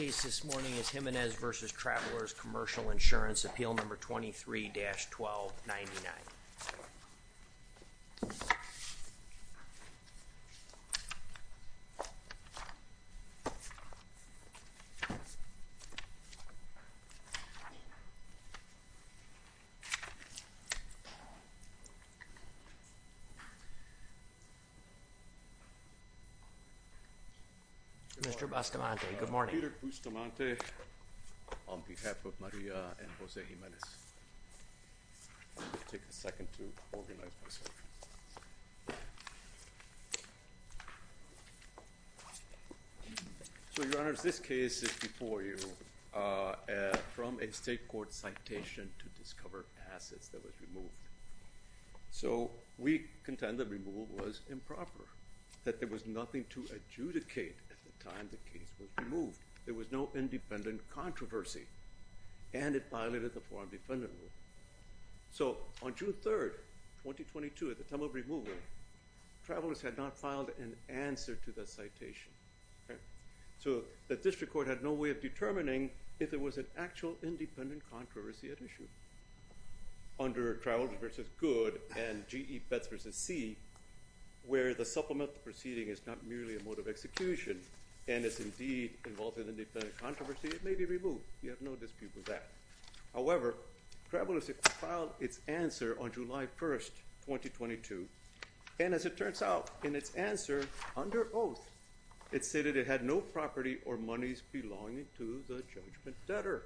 is Jimenez v. Travelers Commercial Insurance, Appeal No. 23-1299. Mr. Bustamante. Good morning. Peter Bustamante on behalf of Maria and Jose Jimenez. I'm going to take a second to organize myself. So, Your Honors, this case is before you from a state court citation to discover assets that was removed. So, we contend the removal was improper, that there was nothing to adjudicate at the time the case was removed. There was no independent controversy, and it violated the Foreign Defendant Rule. So, on June 3rd, 2022, at the time of removal, travelers had not filed an answer to the citation. So, the district court had no way of determining if there was an actual independent controversy at issue. Under Travelers v. Good and GE Bets v. C, where the supplemental proceeding is not merely a mode of execution, and is indeed involved in an independent controversy, it may be removed. You have no dispute with that. However, Travelers filed its answer on July 1st, 2022, and as it turns out, in its answer, under oath, it stated it had no property or monies belonging to the judgment debtor.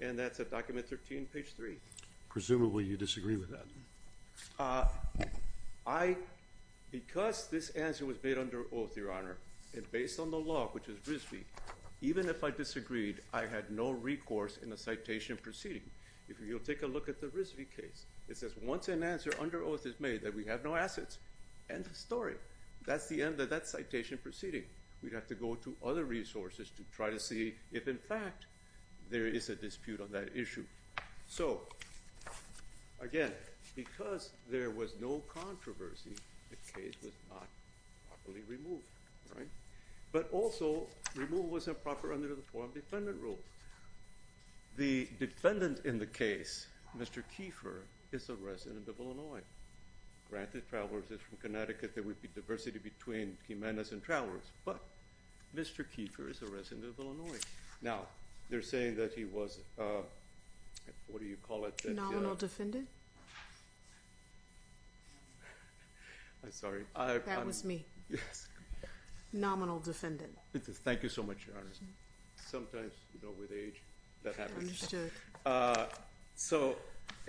And that's at document 13, page 3. Presumably, you disagree with that. I, because this answer was made under oath, Your Honor, and based on the law, which is RISD, even if I disagreed, I had no recourse in the citation proceeding. If you'll take a look at the RISD case, it says once an answer under oath is made that we have no assets, end of story. That's the end of that citation proceeding. We'd have to go to other resources to try to see if, in fact, there is a dispute on that issue. So, again, because there was no controversy, the case was not properly removed, right? But also, removal was improper under the Foreign Defendant Rule. The defendant in the case, Mr. Keefer, is a resident of Illinois. Granted, Travelers is from Connecticut. There would be diversity between Jimenez and Travelers, but Mr. Keefer is a resident of Illinois. Now, they're saying that he was, what do you call it? Nominal defendant? I'm sorry. That was me. Nominal defendant. Thank you so much, Your Honor. Sometimes, you know, with age, that happens. Understood. So,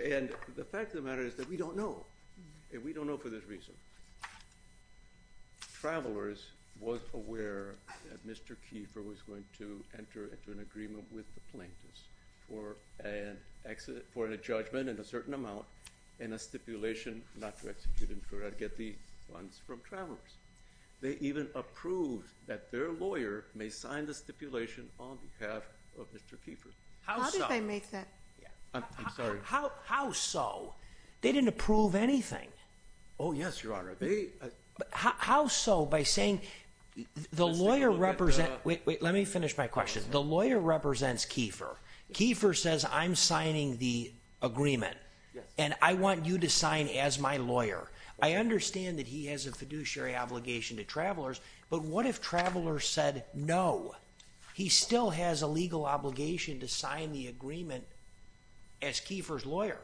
and the fact of the matter is that we don't know, and we don't know for this reason, Travelers was aware that Mr. Keefer was going to enter into an agreement with the plaintiffs for an accident, for a judgment in a certain amount, and a stipulation not to execute him for that, get the funds from Travelers. They even approved that their lawyer may sign the stipulation on behalf of Mr. Keefer. How so? How did they make anything? Oh, yes, Your Honor. How so by saying the lawyer represents, wait, let me finish my question. The lawyer represents Keefer. Keefer says, I'm signing the agreement, and I want you to sign as my lawyer. I understand that he has a fiduciary obligation to Travelers, but what if Travelers said no? He still has a legal obligation to sign the agreement as Keefer's lawyer.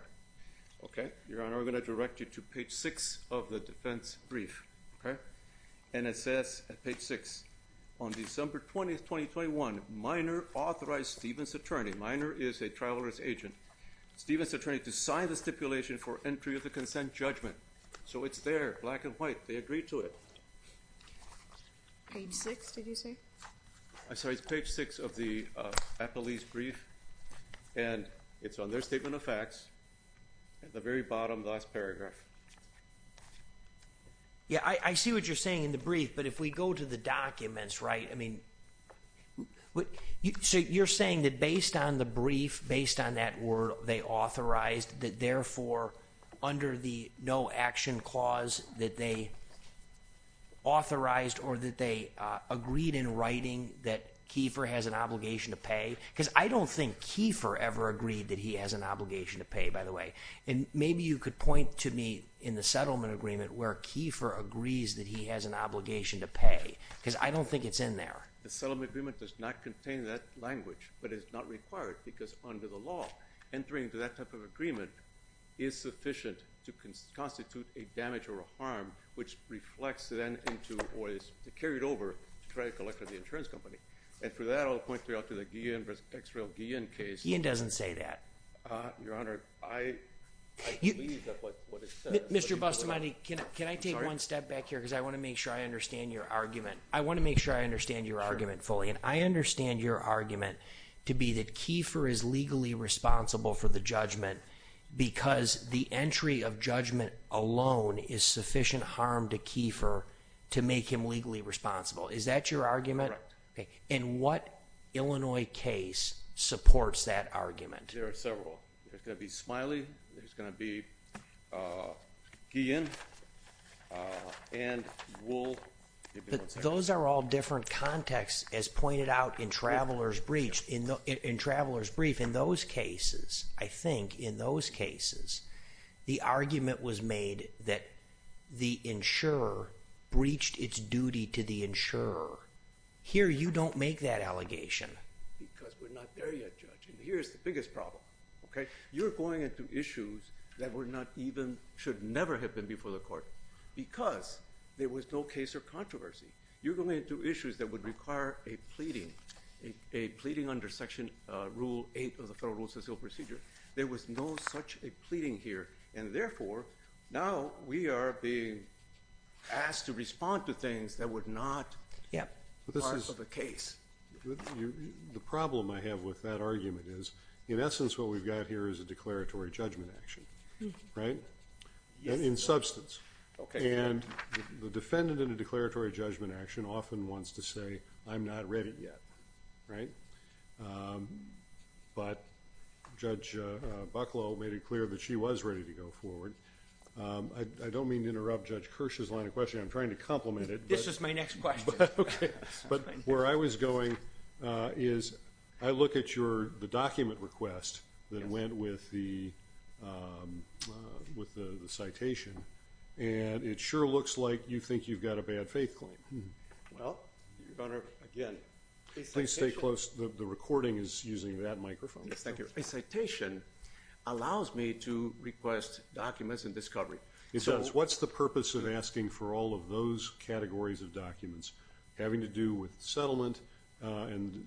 Okay, Your Honor, I'm going to direct you to page 6 of the defense brief, okay, and it says at page 6, on December 20th, 2021, Minor authorized Stephen's attorney, Minor is a Travelers agent, Stephen's attorney to sign the stipulation for entry of the consent judgment. So it's there, black and white, they agreed to it. Page 6, did you say? I'm sorry, it's page 6 of the appellee's brief, and it's on their statement of facts at the very bottom last paragraph. Yeah, I see what you're saying in the brief, but if we go to the documents, right, I mean, so you're saying that based on the brief, based on that word they authorized, that therefore under the no action clause that they authorized, or that they agreed in writing that Keefer has an obligation to pay, because I don't think Keefer ever agreed that he has an obligation to pay, by the way, and maybe you could point to me in the settlement agreement where Keefer agrees that he has an obligation to pay, because I don't think it's in there. The settlement agreement does not contain that language, but it's not required, because under the law, entering into that type of agreement is sufficient to constitute a damage or a harm, which reflects then into, or is carried over to try to collect from the insurance company, and for that I'll point you out to the Guillen vs. Xrel Guillen case. Guillen doesn't say that. Your Honor, I believe that's what it says. Mr. Bustamante, can I take one step back here, because I want to make sure I understand your argument. I want to make sure I understand your argument fully, and I understand your argument to be that Keefer is legally responsible for the judgment, because the entry of judgment alone is sufficient harm to Keefer to make him legally responsible. Is that your argument? Correct. And what Illinois case supports that argument? There are several. There's going to be Smiley, there's going to be Guillen, and we'll... Those are all different contexts, as pointed out in Traveler's Brief. In those cases, I think, in those cases, the argument was made that the insurer breached its duty to the insurer. Here you don't make that allegation. Because we're not there yet, Judge, and here's the biggest problem, okay? You're going into issues that were not even, should never have been before the court, because there was no case or controversy. You're going into issues that would require a pleading, a pleading under Section Rule 8 of the Federal Rules of Civil Procedure. There was no such a pleading here, and therefore, now we are being asked to respond to things that were not part of a case. The problem I have with that argument is, in essence, what we've got here is a declaratory judgment action, right? In substance. And the defendant in a declaratory judgment action often wants to say, I'm not ready yet, right? But Judge Bucklow made it clear that she was ready to go forward. I don't mean to interrupt Judge Kirsch's line of questioning. I'm trying to complement it. This is my next question. Okay. But where I was going is, I look at your, the document request that went with the citation, and it sure looks like you think you've got a bad faith claim. Well, Your Honor, again, please stay close. The recording is using that microphone. Yes, thank you. A citation allows me to request documents and discovery. It does. What's the purpose of asking for all of those categories of documents having to do with settlement and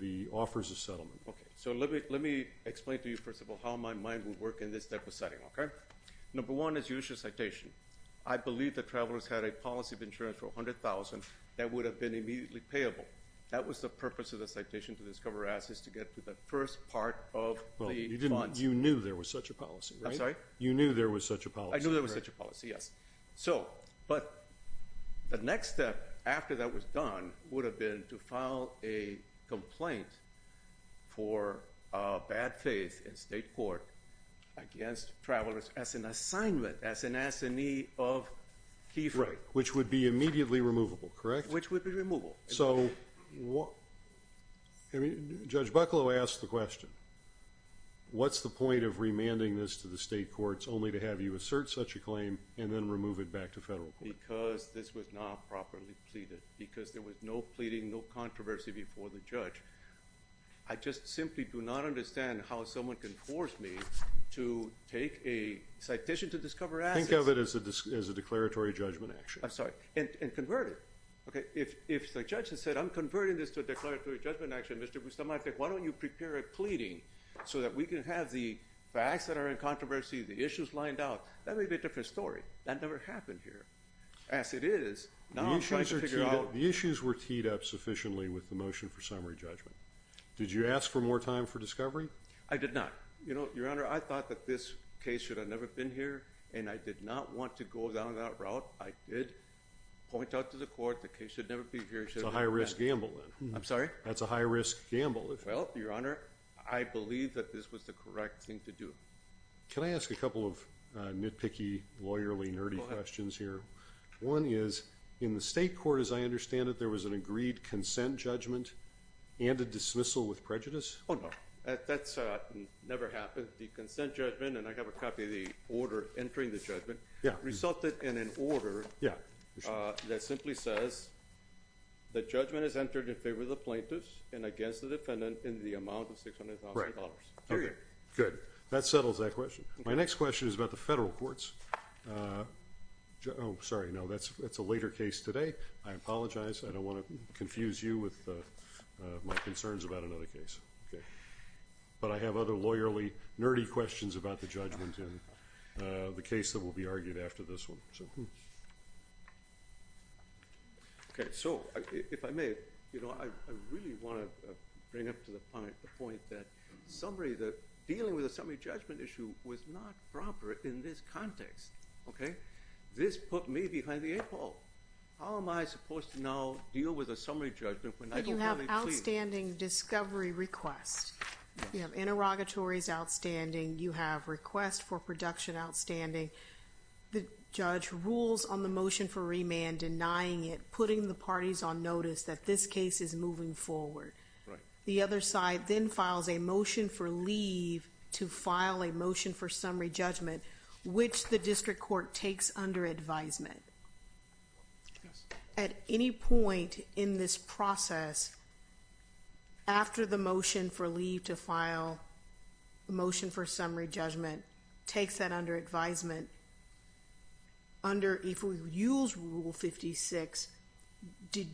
the offers of settlement? Okay. So let me explain to you, first of all, how my mind would work in this type of setting, okay? Number one is use your citation. I believe the travelers had a policy of insurance for $100,000 that would have been immediately payable. That was the purpose of the citation to discover assets, to get to the first part of the funds. You knew there was such a policy, right? I'm sorry? You knew there was such a policy. I knew there was such a policy, yes. But the next step after that was done would have been to file a complaint for bad faith in state court against travelers as an assignment, as an assignee of chief. Right, which would be immediately removable, correct? Which would be removable. So Judge Bucklow asked the question, what's the point of remanding this to the state courts only to have you assert such a claim and then remove it back to federal court? Because this was not properly pleaded, because there was no pleading, no controversy before the judge. I just simply do not understand how someone can force me to take a citation to discover assets. Think of it as a declaratory judgment action. I'm sorry. And convert it, okay? If the judge had said, I'm converting this to a declaratory judgment action, Mr. Bustamante, why don't you prepare a pleading so that we can have the facts that are in controversy, the issues lined out. That may be a different story. That never happened here. As it is, now I'm trying to figure out- The issues were teed up sufficiently with the motion for summary judgment. Did you ask for more time for discovery? I did not. Your Honor, I thought that this case should have never been here, and I did not want to go down that route. I did point out to the court, the case should never be here. It's a high-risk gamble, then. I'm sorry? That's a high-risk gamble. Well, Your Honor, I believe that this was the correct thing to do. Can I ask a couple of nitpicky, lawyerly, nerdy questions here? One is, in the state court, as I understand it, there was an agreed consent judgment and a dismissal with prejudice? Oh, no. That's never happened. The consent judgment, and I have a copy of the order entering the judgment, resulted in an order that simply says, the judgment is entered in favor of the plaintiffs and against the defendant in the amount of $600,000. Right. Period. Good. That settles that question. My next question is about the federal courts. Oh, sorry. No, that's a later case today. I apologize. I don't want to confuse you with my concerns about another case. But I have other lawyerly, nerdy questions about the judgment. The case that will be argued after this one. Okay. So, if I may, I really want to bring up to the point that dealing with a summary judgment issue was not proper in this context. Okay? This put me behind the eight ball. How am I supposed to now deal with a summary judgment when I don't have a plea? You have outstanding discovery requests. You have interrogatories outstanding. You have requests for production outstanding. The judge rules on the motion for remand, denying it, putting the parties on notice that this case is moving forward. The other side then files a motion for leave to file a motion for summary judgment, which the district court takes under advisement. At any point in this process, after the motion for leave to file a motion for summary judgment takes that under advisement, under, if we use Rule 56, did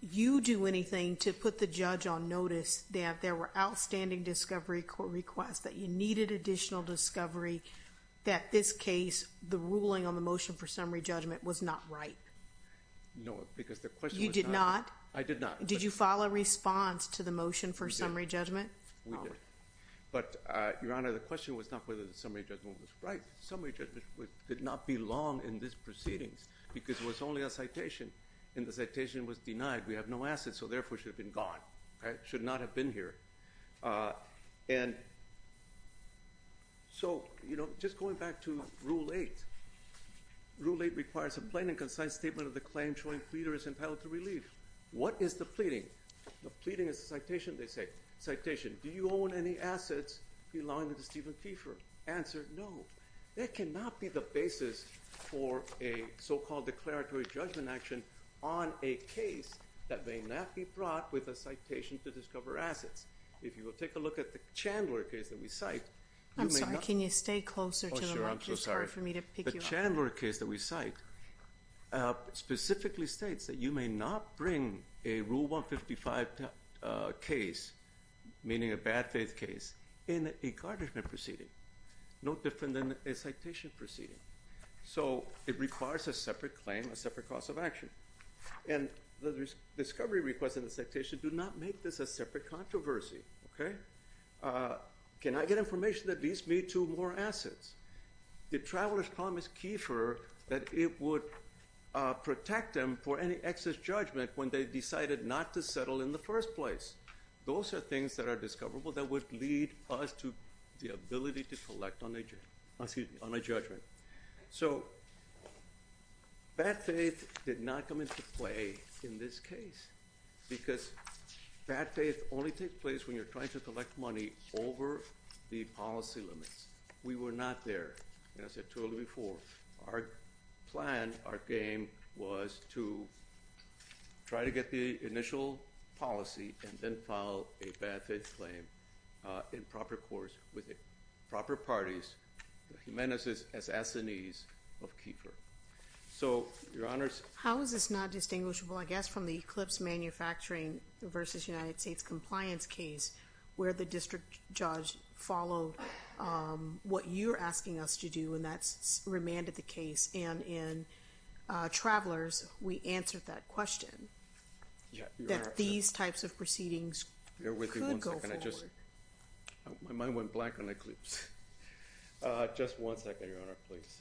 you do anything to put the judge on notice that there were outstanding discovery court requests, that you needed additional discovery, that this case, the ruling on the motion for summary judgment was not right? No, because the question was not... You did not? I did not. Did you file a response to the motion for summary judgment? We did. But Your Honor, the question was not whether the summary judgment was right. Summary judgment did not belong in this proceedings because it was only a citation and the citation was denied. We have no assets. So therefore, it should have been gone, right? Should not have been here. And so, you know, just going back to Rule 8. Rule 8 requires a plain and concise statement of the claim showing pleader is entitled to relief. What is the pleading? The pleading is a citation, they say. Citation, do you own any assets belonging to Stephen Keefer? Answer, no. There cannot be the basis for a so-called declaratory judgment action on a case that may not be brought with a citation to discover assets. If you will take a look at the Chandler case that we cite... I'm sorry, can you stay closer to the mic? I'm so sorry. The Chandler case that we cite specifically states that you may not bring a Rule 155 case, meaning a bad faith case, in a garnishment proceeding. No different than a citation proceeding. So it requires a separate claim, a separate cause of action. And the discovery request and the citation do not make this a separate controversy, okay? Can I get information that leads me to more assets? The travelers promised Keefer that it would protect them for any excess judgment when they decided not to settle in the first place. Those are things that are discoverable that would lead us to the ability to collect on a judgment. So bad faith did not come into play in this case because bad faith only takes place when you're trying to collect money over the policy limits. We were not there, as I told you before. Our plan, our game was to try to get the initial policy and then file a bad faith claim in proper course with the proper parties, the Jimenez assassinees of Keefer. So, Your Honors... How is this not distinguishable, I guess, from the Eclipse Manufacturing versus United States Compliance case where the district judge followed what you're asking us to do and that's remanded the case. And in Travelers, we answered that question. Yeah, Your Honor. That these types of proceedings could go forward. Bear with me one second. My mind went black on Eclipse. Just one second, Your Honor, please.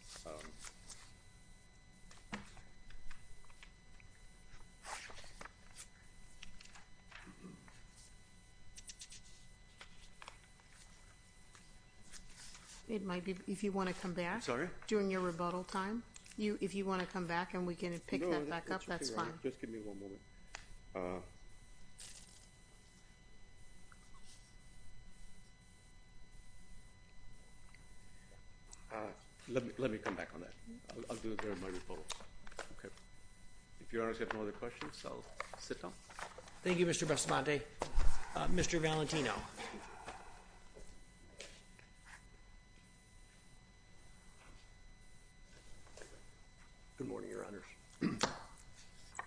It might be if you want to come back. Sorry. During your rebuttal time, if you want to come back and we can pick that back up, that's fine. Just give me one moment. Let me come back on that. I'll do it during my rebuttal. Okay. If Your Honors have no other questions, I'll sit down. Thank you, Mr. Basmante. Mr. Valentino. Good morning, Your Honors.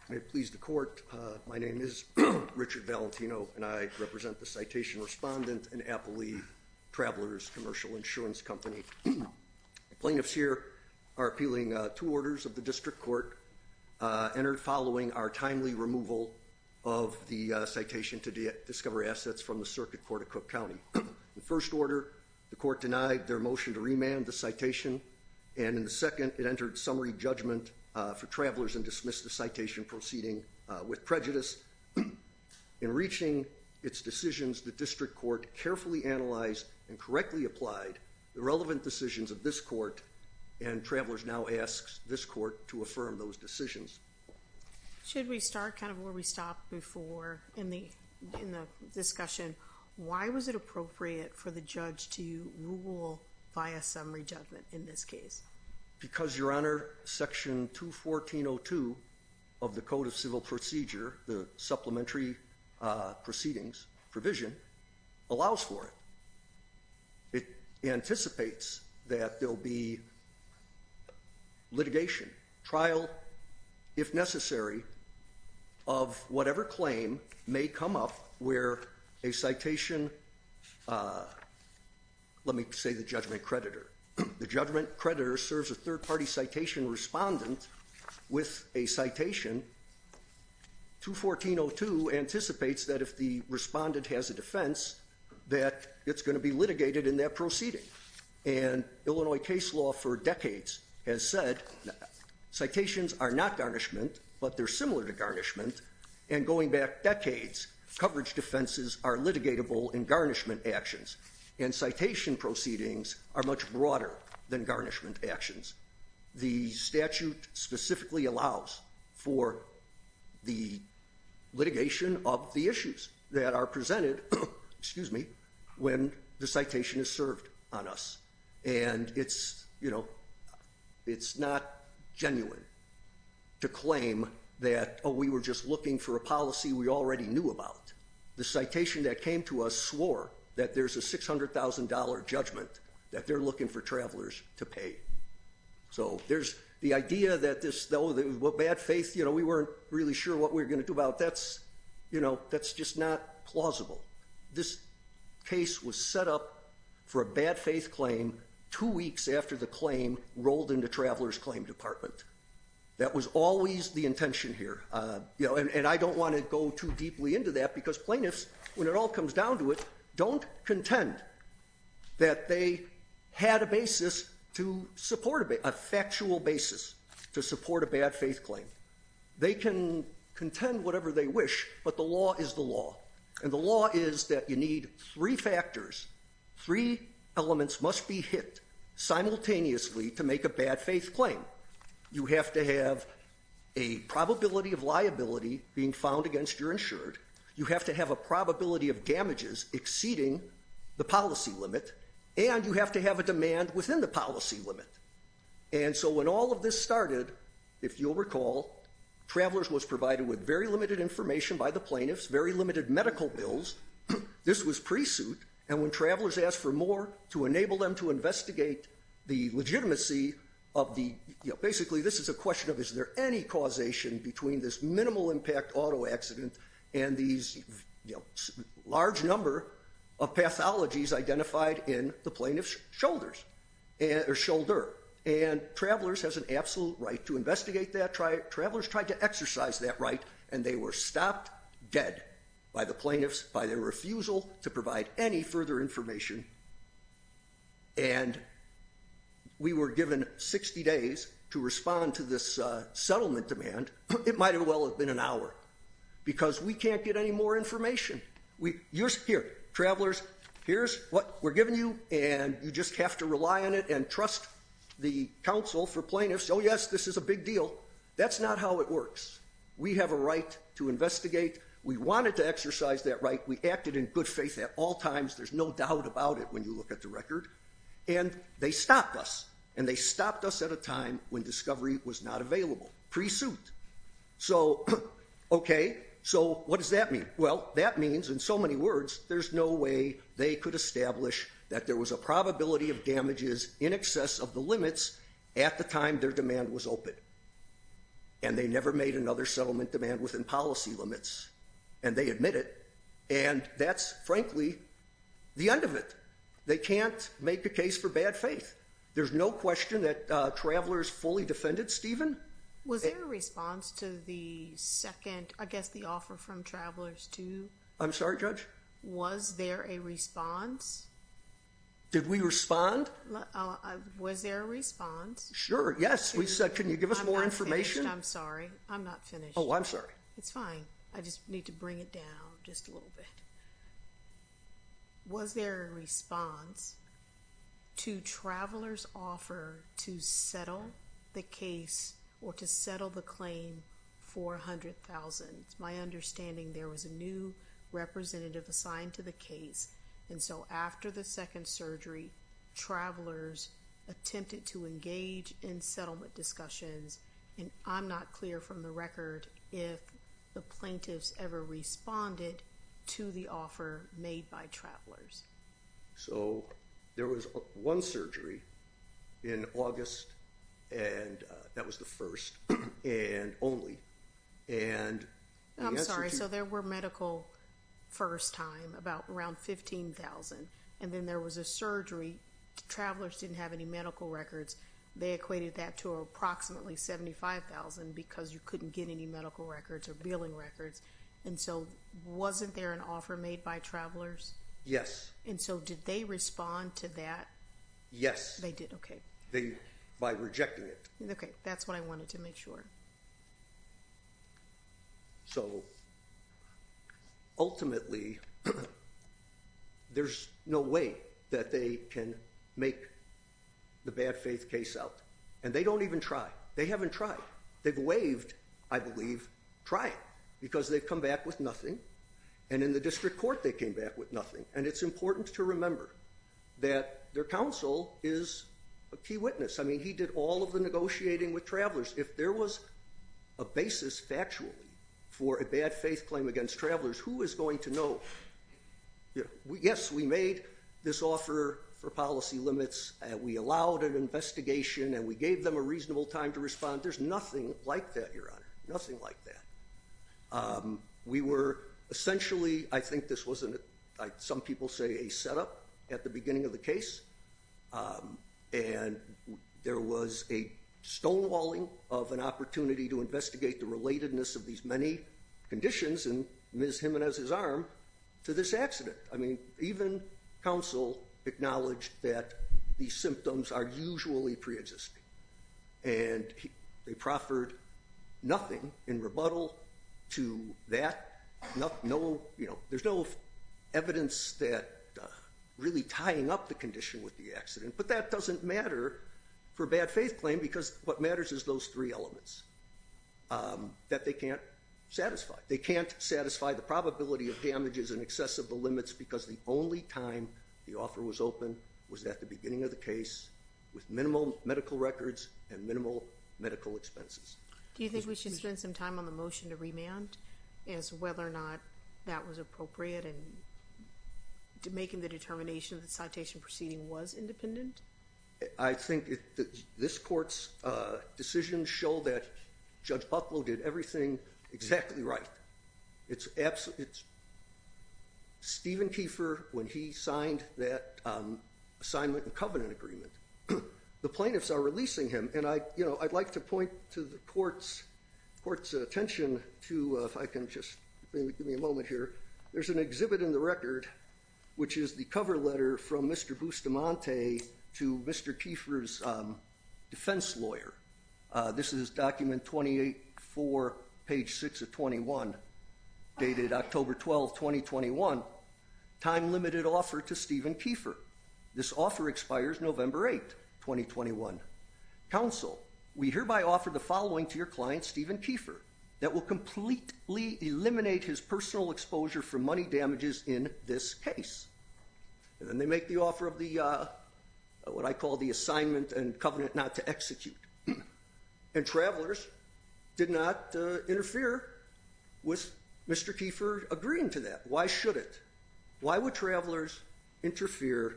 May it please the court, my name is Richard Valentino and I represent the citation respondent in Appley Travelers Commercial Insurance Company. Plaintiffs here are appealing two orders of the district court entered following our timely removal of the citation to discover assets from the circuit court of Cook County. The first order, the court denied their motion to remand the citation. And in the second, it entered summary judgment for travelers and dismissed the citation proceeding with prejudice. In reaching its decisions, the district court carefully analyzed and correctly applied the relevant decisions of this court and travelers now asks this court to affirm those decisions. Should we start kind of where we stopped before in the discussion? Why was it appropriate for the judge to rule via summary judgment in this case? Because Your Honor, section 214.02 of the code of civil procedure, the supplementary proceedings provision allows for it. It anticipates that there'll be litigation, trial if necessary of whatever claim may come up where a citation, let me say the judgment creditor. The judgment creditor serves a third party citation respondent with a citation. 214.02 anticipates that if the respondent has a defense that it's gonna be litigated in that proceeding. And Illinois case law for decades has said citations are not garnishment, but they're similar to garnishment. And going back decades, coverage defenses are litigatable in garnishment actions. And citation proceedings are much broader than garnishment actions. The statute specifically allows for the litigation of the issues that are presented, excuse me, when the citation is served on us. And it's not genuine to claim that, oh, we were just looking for a policy we already knew about. The citation that came to us swore that there's a $600,000 judgment that they're looking for travelers to pay. So there's the idea that this though, that with bad faith, we weren't really sure what we're gonna do about. You know, that's just not plausible. This case was set up for a bad faith claim two weeks after the claim rolled into Traveler's Claim Department. That was always the intention here. And I don't wanna go too deeply into that because plaintiffs, when it all comes down to it, don't contend that they had a basis to support a factual basis to support a bad faith claim. They can contend whatever they wish, but the law is the law. And the law is that you need three factors. Three elements must be hit simultaneously to make a bad faith claim. You have to have a probability of liability being found against your insured. You have to have a probability of damages exceeding the policy limit. And you have to have a demand within the policy limit. And so when all of this started, if you'll recall, Traveler's was provided with very limited information by the plaintiffs, very limited medical bills. This was pre-suit. And when Traveler's asked for more to enable them to investigate the legitimacy of the... Basically, this is a question of, is there any causation between this minimal impact auto accident and these large number of pathologies identified in the plaintiff's shoulder? Or shoulder. And Traveler's has an absolute right to investigate that. Traveler's tried to exercise that right, and they were stopped dead by the plaintiffs by their refusal to provide any further information. And we were given 60 days to respond to this settlement demand. It might as well have been an hour because we can't get any more information. Here, Traveler's, here's what we're giving you, and you just have to rely on it and trust the counsel for plaintiffs. Oh, yes, this is a big deal. That's not how it works. We have a right to investigate. We wanted to exercise that right. We acted in good faith at all times. There's no doubt about it when you look at the record. And they stopped us, and they stopped us at a time when discovery was not available. Pre-suit. So, okay. So what does that mean? Well, that means, in so many words, there's no way they could establish that there was a probability of damages in excess of the limits at the time their demand was open. And they never made another settlement demand within policy limits. And they admit it. And that's, frankly, the end of it. They can't make a case for bad faith. There's no question that Traveler's fully defended Stephen. Was there a response to the second, I guess, the offer from Traveler's too? I'm sorry, Judge? Was there a response? Did we respond? Was there a response? Sure, yes. We said, can you give us more information? I'm sorry. I'm not finished. Oh, I'm sorry. It's fine. I just need to bring it down just a little bit. Was there a response to Traveler's offer to settle the case or to settle the claim for $100,000? My understanding, there was a new representative assigned to the case. And so after the second surgery, Traveler's attempted to engage in settlement discussions. And I'm not clear from the record if the plaintiffs ever responded to the offer made by Traveler's. So there was one surgery in August. And that was the first and only. And I'm sorry. So there were medical first time around 15,000. And then there was a surgery. Traveler's didn't have any medical records. They equated that to approximately 75,000 because you couldn't get any medical records or billing records. And so wasn't there an offer made by Traveler's? Yes. And so did they respond to that? Yes. They did, okay. They, by rejecting it. Okay, that's what I wanted to make sure. So ultimately, there's no way that they can make the bad faith case out. And they don't even try. They haven't tried. They've waived, I believe, trying because they've come back with nothing. And in the district court, they came back with nothing. And it's important to remember that their counsel is a key witness. I mean, he did all of the negotiating with Traveler's. If there was a case, a basis factually, for a bad faith claim against Traveler's, who is going to know? Yes, we made this offer for policy limits. We allowed an investigation and we gave them a reasonable time to respond. There's nothing like that, Your Honor. Nothing like that. We were essentially, I think this wasn't, some people say a setup at the beginning of the case. And there was a stonewalling of an opportunity to investigate the relatedness of these many conditions in Ms. Jimenez's arm to this accident. I mean, even counsel acknowledged that these symptoms are usually preexisting. And they proffered nothing in rebuttal to that. There's no evidence that really tying up the condition with the accident, but that doesn't matter for bad faith claim because what matters is those three elements that they can't satisfy. They can't satisfy the probability of damages in excess of the limits because the only time the offer was open was at the beginning of the case with minimal medical records and minimal medical expenses. Do you think we should spend some time on the motion to remand as whether or not that was appropriate and to making the determination of the citation proceeding was independent? I think this court's decisions show that Judge Bucklow did everything exactly right. Stephen Kiefer, when he signed that assignment and covenant agreement, the plaintiffs are releasing him. And I'd like to point to the court's attention to, if I can just give me a moment here, there's an exhibit in the record, which is the cover letter from Mr. Bustamante to Mr. Kiefer's defense lawyer. This is document 28-4, page six of 21, dated October 12th, 2021, time limited offer to Stephen Kiefer. This offer expires November 8th, 2021. Counsel, we hereby offer the following to your client, Stephen Kiefer, that will completely eliminate his personal exposure from money damages in this case. And then they make the offer of the, what I call the assignment and covenant not to execute. And Travelers did not interfere with Mr. Kiefer agreeing to that. Why should it? Why would Travelers interfere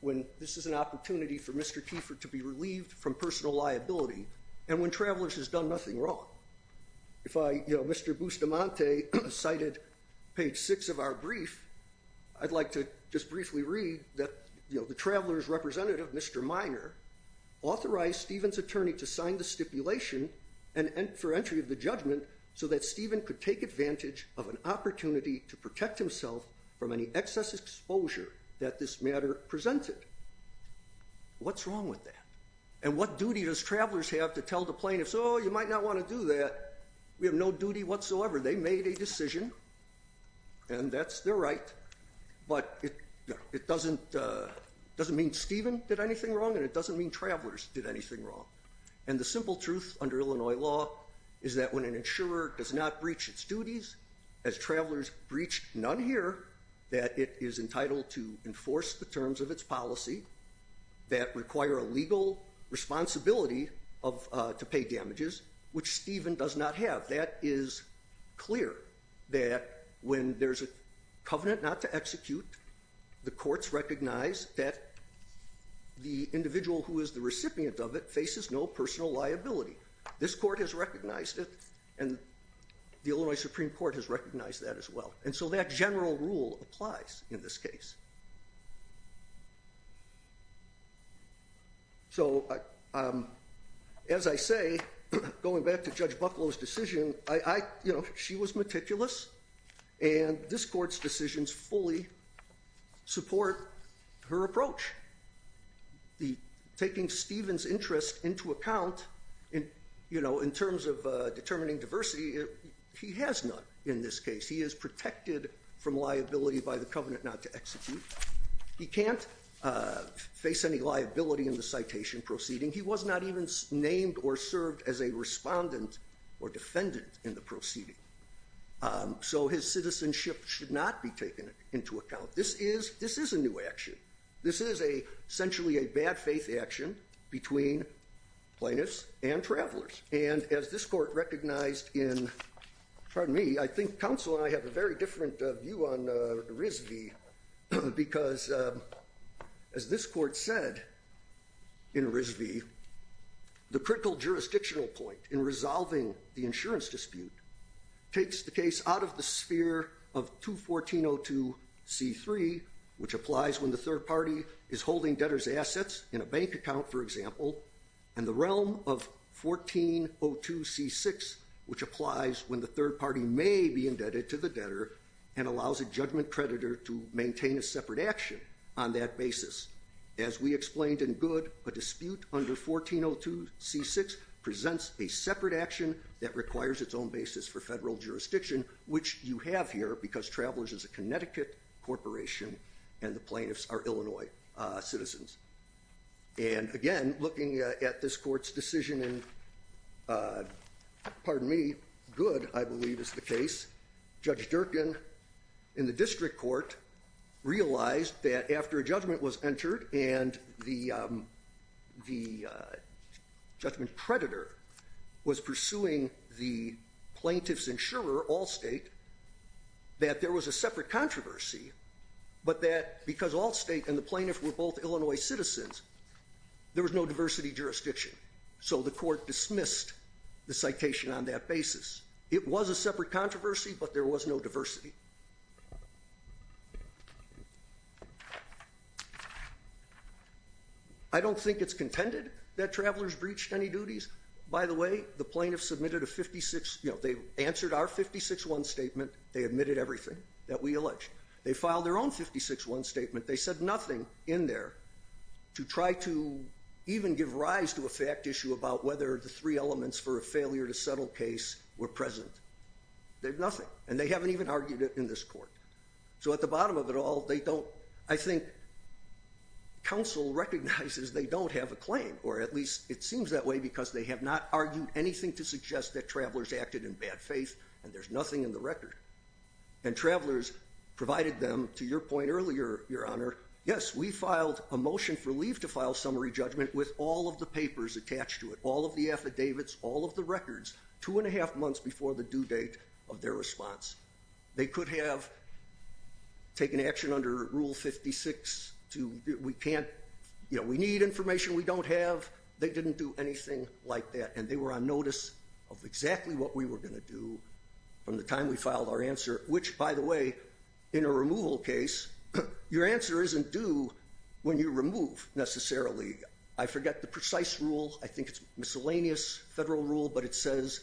when this is an opportunity for Mr. Kiefer to be relieved from personal liability and when Travelers has done nothing wrong? If I, you know, Mr. Bustamante cited page six of our brief, I'd like to just briefly read that, you know, the Travelers representative, Mr. Minor, authorized Stephen's attorney to sign the stipulation and for entry of the judgment so that Stephen could take advantage of an opportunity to protect himself from any excess exposure that this matter presented. What's wrong with that? And what duty does Travelers have to tell the plaintiffs, oh, you might not want to do that. We have no duty whatsoever. They made a decision and that's their right. But it doesn't mean Stephen did anything wrong and it doesn't mean Travelers did anything wrong. And the simple truth under Illinois law is that when an insurer does not breach its duties as Travelers breached none here, that it is entitled to enforce the terms of its policy that require a legal responsibility to pay damages, which Stephen does not have. That is clear that when there's a covenant not to execute, the courts recognize that the individual who is the recipient of it faces no personal liability. This court has recognized it and the Illinois Supreme Court has recognized that as well. And so that general rule applies in this case. So as I say, going back to Judge Bucklow's decision, she was meticulous and this court's decisions fully support her approach. Taking Stephen's interest into account in terms of determining diversity, he has none in this case. He is protected from liability by the covenant not to execute. He can't face any liability in the citation proceeding. He was not even named or served as a respondent or defendant in the proceeding. So his citizenship should not be taken into account. This is a new action. This is essentially a bad faith action between plaintiffs and Travelers. And as this court recognized in, pardon me, I think counsel and I have a very different view on RISV because as this court said in RISV, the critical jurisdictional point in resolving the insurance dispute takes the case out of the sphere of 21402 C3, which applies when the third party is holding debtor's assets in a bank account, for example, and the realm of 1402 C6, which applies when the third party may be indebted to the debtor and allows a judgment creditor to maintain a separate action on that basis. As we explained in Good, a dispute under 1402 C6 presents a separate action that requires its own basis for federal jurisdiction, which you have here because Travelers is a Connecticut corporation and the plaintiffs are Illinois citizens. And again, looking at this court's decision in, pardon me, Good, I believe is the case, Judge Durkin in the district court realized that after a judgment was entered and the judgment creditor was pursuing the plaintiff's insurer, Allstate, that there was a separate controversy, but that because Allstate and the plaintiff were both Illinois citizens, there was no diversity jurisdiction. So the court dismissed the citation on that basis. It was a separate controversy, but there was no diversity. I don't think it's contended that Travelers breached any duties. By the way, the plaintiff submitted a 56, you know, they answered our 56-1 statement. They admitted everything that we alleged. They filed their own 56-1 statement. They said nothing in there to try to even give rise to a fact issue about whether the three elements for a failure to settle case were present. They have nothing, and they haven't even argued it in this court. So at the bottom of it all, they don't, I think, counsel recognizes they don't have a claim, or at least it seems that way because they have not argued anything to suggest that Travelers acted in bad faith and there's nothing in the record. And Travelers provided them, to your point earlier, Your Honor, yes, we filed a motion for leave to file summary judgment with all of the papers attached to it, all of the affidavits, all of the records, two and a half months before the due date of their response. They could have taken action under Rule 56 to, we can't, you know, we need information we don't have. They didn't do anything like that, and they were on notice of exactly what we were going to do from the time we filed our answer, which, by the way, in a removal case, your answer isn't due when you remove, necessarily. I forget the precise rule. I think it's miscellaneous federal rule, but it says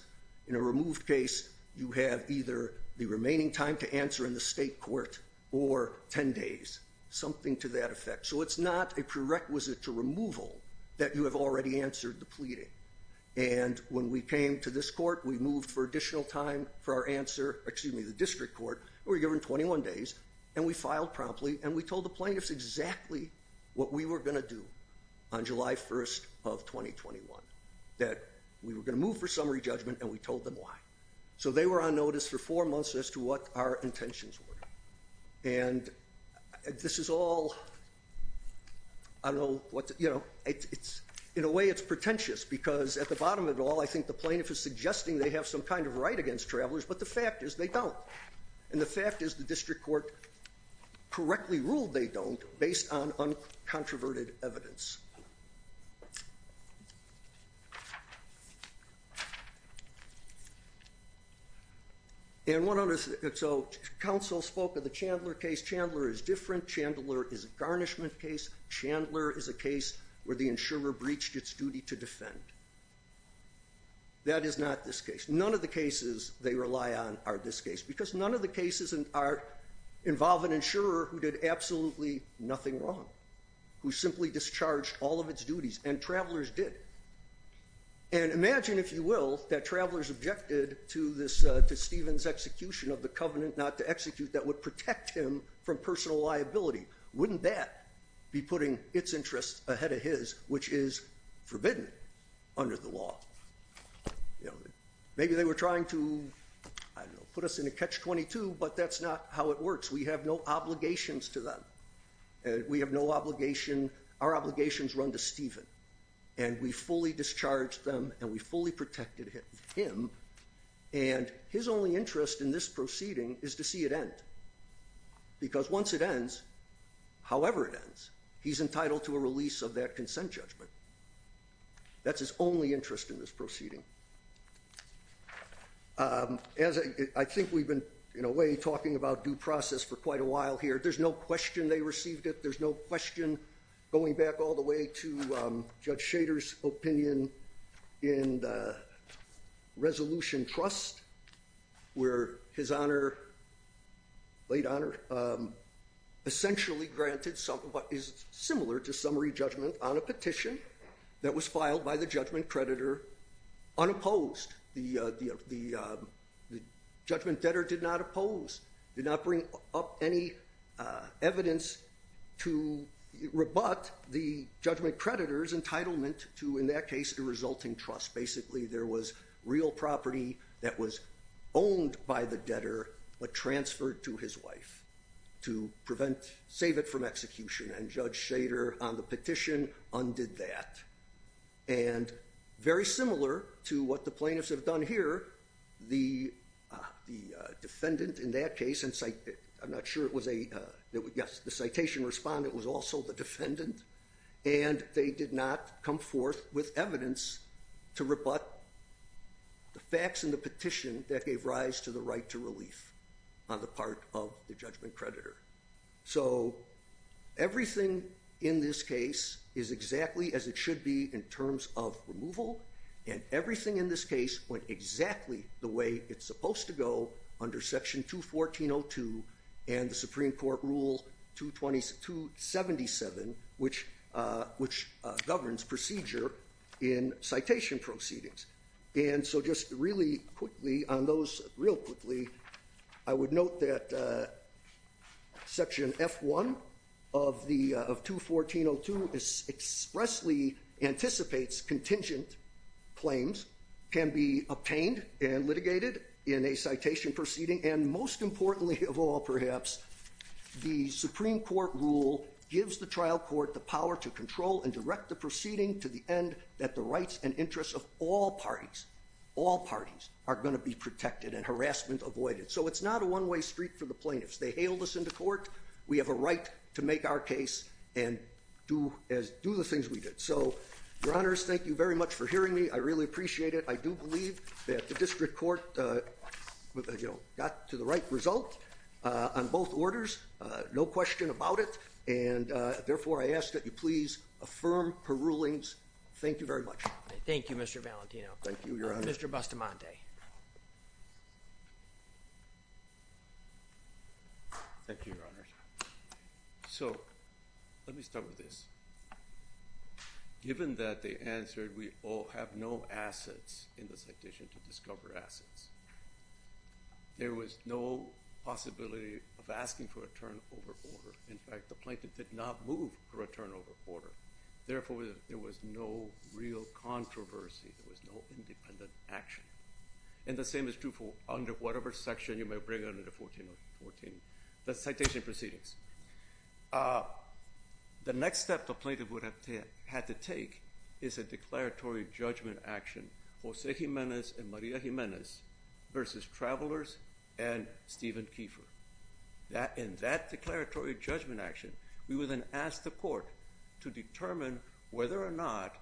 in a removed case you have either the remaining time to answer in the state court or 10 days, something to that effect. So it's not a prerequisite to removal that you have already answered the pleading. And when we came to this court, we moved for additional time for our answer, excuse me, the district court. We were given 21 days and we filed promptly and we told the plaintiffs exactly what we were going to do on July 1st of 2021, that we were going to move for summary judgment and we told them why. So they were on notice for four months as to what our intentions were. And this is all, I don't know what, you know, it's in a way it's pretentious because at the bottom of it all, I think the plaintiff is suggesting they have some kind of right against travelers, but the fact is they don't. And the fact is the district court correctly ruled they don't based on uncontroverted evidence. And so counsel spoke of the Chandler case. Chandler is different. Chandler is a garnishment case. Chandler is a case where the insurer breached its duty to defend. That is not this case. None of the cases they rely on are this case because none of the cases involve an insurer who did absolutely nothing wrong, who simply discharged all of its duties and travelers did. And imagine, if you will, that travelers objected to this, to Stephen's execution of the covenant not to execute that would protect him from personal liability. Wouldn't that be putting its interests ahead of his, which is forbidden under the law? Maybe they were trying to, I don't know, put us in a catch-22, but that's not how it works. We have no obligations to them. We have no obligation. Our obligations run to Stephen and we fully discharged them and we fully protected him. And his only interest in this proceeding is to see it end because once it ends, however it ends, he's entitled to a release of that consent judgment. That's his only interest in this proceeding. I think we've been, in a way, talking about due process for quite a while here. There's no question they received it. There's no question, going back all the way to Judge Schader's opinion in the Resolution Trust, where his honor, late honor, essentially granted something that is similar to summary judgment on a petition that was filed by the judgment creditor unopposed. The judgment debtor did not oppose, did not bring up any evidence to rebut the judgment creditor's entitlement to, in that case, a resulting trust. Basically there was real property that was owned by the debtor but transferred to his wife to prevent, save it from execution. And Judge Schader, on the petition, undid that. And very similar to what the plaintiffs have done here, the defendant, in that case, I'm not sure it was a, yes, the citation respondent was also the defendant. And they did not come forth with evidence to rebut the facts in the petition that gave rise to the right to relief on the part of the judgment creditor. So everything in this case is exactly as it should be in terms of removal. And everything in this case went exactly the way it's supposed to go under Section 214.02 and the Supreme Court Rule 277, which governs procedure in citation proceedings. And so just really quickly, on those real quickly, I would note that Section F1 of 214.02 expressly anticipates contingent claims can be obtained and litigated in a citation proceeding. And most importantly of all, perhaps, the Supreme Court Rule gives the trial court the power to control and direct the proceeding to the end that the rights and interests of all parties, all parties, are going to be protected and harassment avoided. So it's not a one-way street for the plaintiffs. They hailed us into court. We have a right to make our case and do the things we did. So, Your Honors, thank you very much for hearing me. I really appreciate it. I do believe that the district court got to the right result on both orders. No question about it. And therefore, I ask that you please affirm per rulings. Thank you very much. Thank you, Mr. Valentino. Thank you, Your Honor. Mr. Bustamante. Thank you, Your Honors. So let me start with this. Given that they answered we all have no assets in the citation to discover assets, there was no possibility of asking for a turn over order. In fact, the plaintiff did not move for a turn over order. Therefore, there was no real controversy. There was no independent action. And the same is true for under whatever section you may bring under the 14-14, the citation proceedings. The next step the plaintiff would have had to take is a declaratory judgment action. Jose Jimenez and Maria Jimenez versus Travelers and Stephen Kiefer. In that declaratory judgment action, we would then ask the court to determine whether or not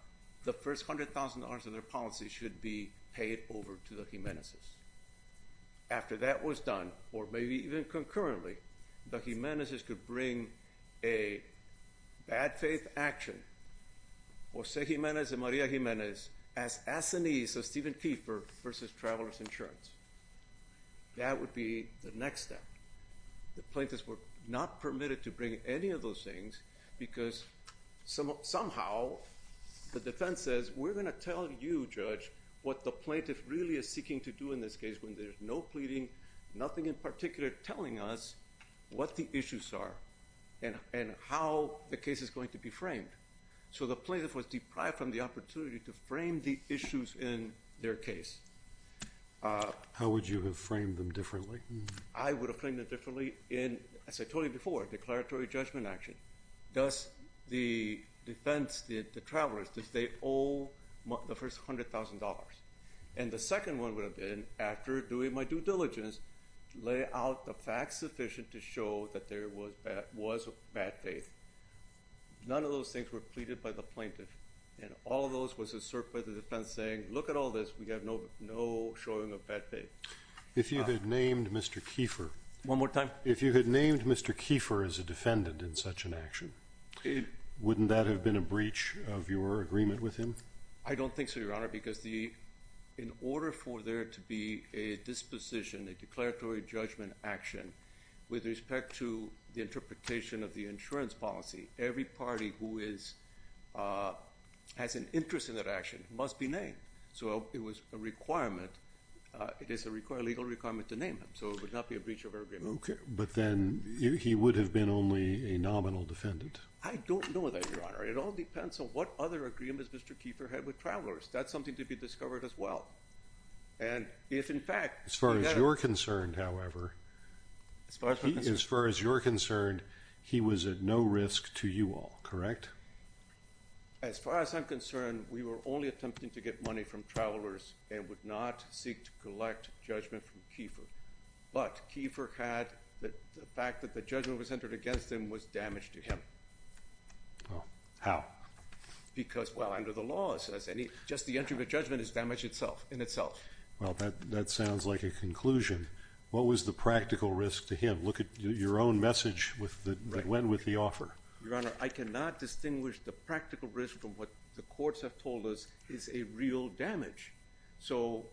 the first $100,000 in their policy should be paid over to the Jimenez's. After that was done, or maybe even concurrently, the Jimenez's could bring a bad faith action. Jose Jimenez and Maria Jimenez as assinees of Stephen Kiefer versus Travelers Insurance. That would be the next step. The plaintiffs were not permitted to bring any of those things because somehow the defense says, we're going to tell you, Judge, what the plaintiff really is seeking to do in this case when there's no pleading, nothing in particular telling us what the issues are and how the case is going to be framed. So the plaintiff was deprived from the opportunity to frame the issues in their case. How would you have framed them differently? I would have framed them differently in, as I told you before, declaratory judgment action. Thus, the defense, the Travelers, that they owe the first $100,000. And the second one would have been after doing my due diligence, lay out the facts sufficient to show that there was a bad faith. None of those things were pleaded by the plaintiff. And all of those was asserted by the defense saying, look at all this. We have no, no showing of bad faith. If you had named Mr. Kiefer one more time, if you had named Mr. Kiefer as a defendant in such an action, wouldn't that have been a breach of your agreement with him? I don't think so, Your Honor, because the in order for there to be a disposition, a declaratory judgment action with respect to the interpretation of the insurance policy, every party who is has an interest in that action must be named. So it was a requirement. It is a legal requirement to name him. So it would not be a breach of agreement. OK, but then he would have been only a nominal defendant. I don't know that, Your Honor. It all depends on what other agreements Mr. Kiefer had with travelers. That's something to be discovered as well. And if, in fact, as far as you're concerned, however, as far as you're concerned, he was at no risk to you all, correct? As far as I'm concerned, we were only attempting to get money from travelers and would not seek to collect judgment from Kiefer. But Kiefer had the fact that the judgment was entered against him was damaged to him. Well, how? Because, well, under the law, just the entry of a judgment is damage itself in itself. Well, that that sounds like a conclusion. What was the practical risk to him? Look at your own message that went with the offer. Your Honor, I cannot distinguish the practical risk from what the courts have told us is a real damage. So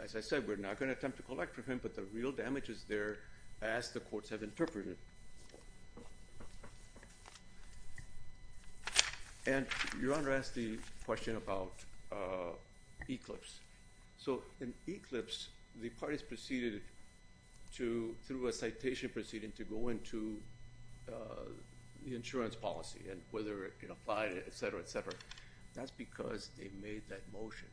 as I said, we're not going to attempt to collect for him, but the real damage is there as the courts have interpreted. And your Honor asked the question about Eclipse. So in Eclipse, the parties proceeded to through a citation proceeding to go into the insurance policy and whether it applied, et cetera, et cetera. That's because they made that motion.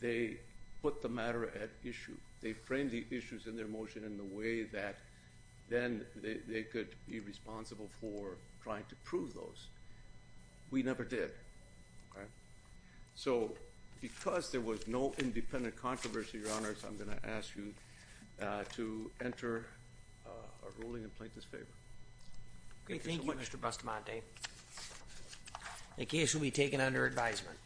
They put the matter at issue. They framed the issues in their motion in the way that then they could be responsible for trying to prove those. We never did. So because there was no independent controversy, your Honor, I'm going to ask you to enter a ruling and plaintiff's favor. OK, thank you, Mr. Bustamante. The case will be taken under advisement.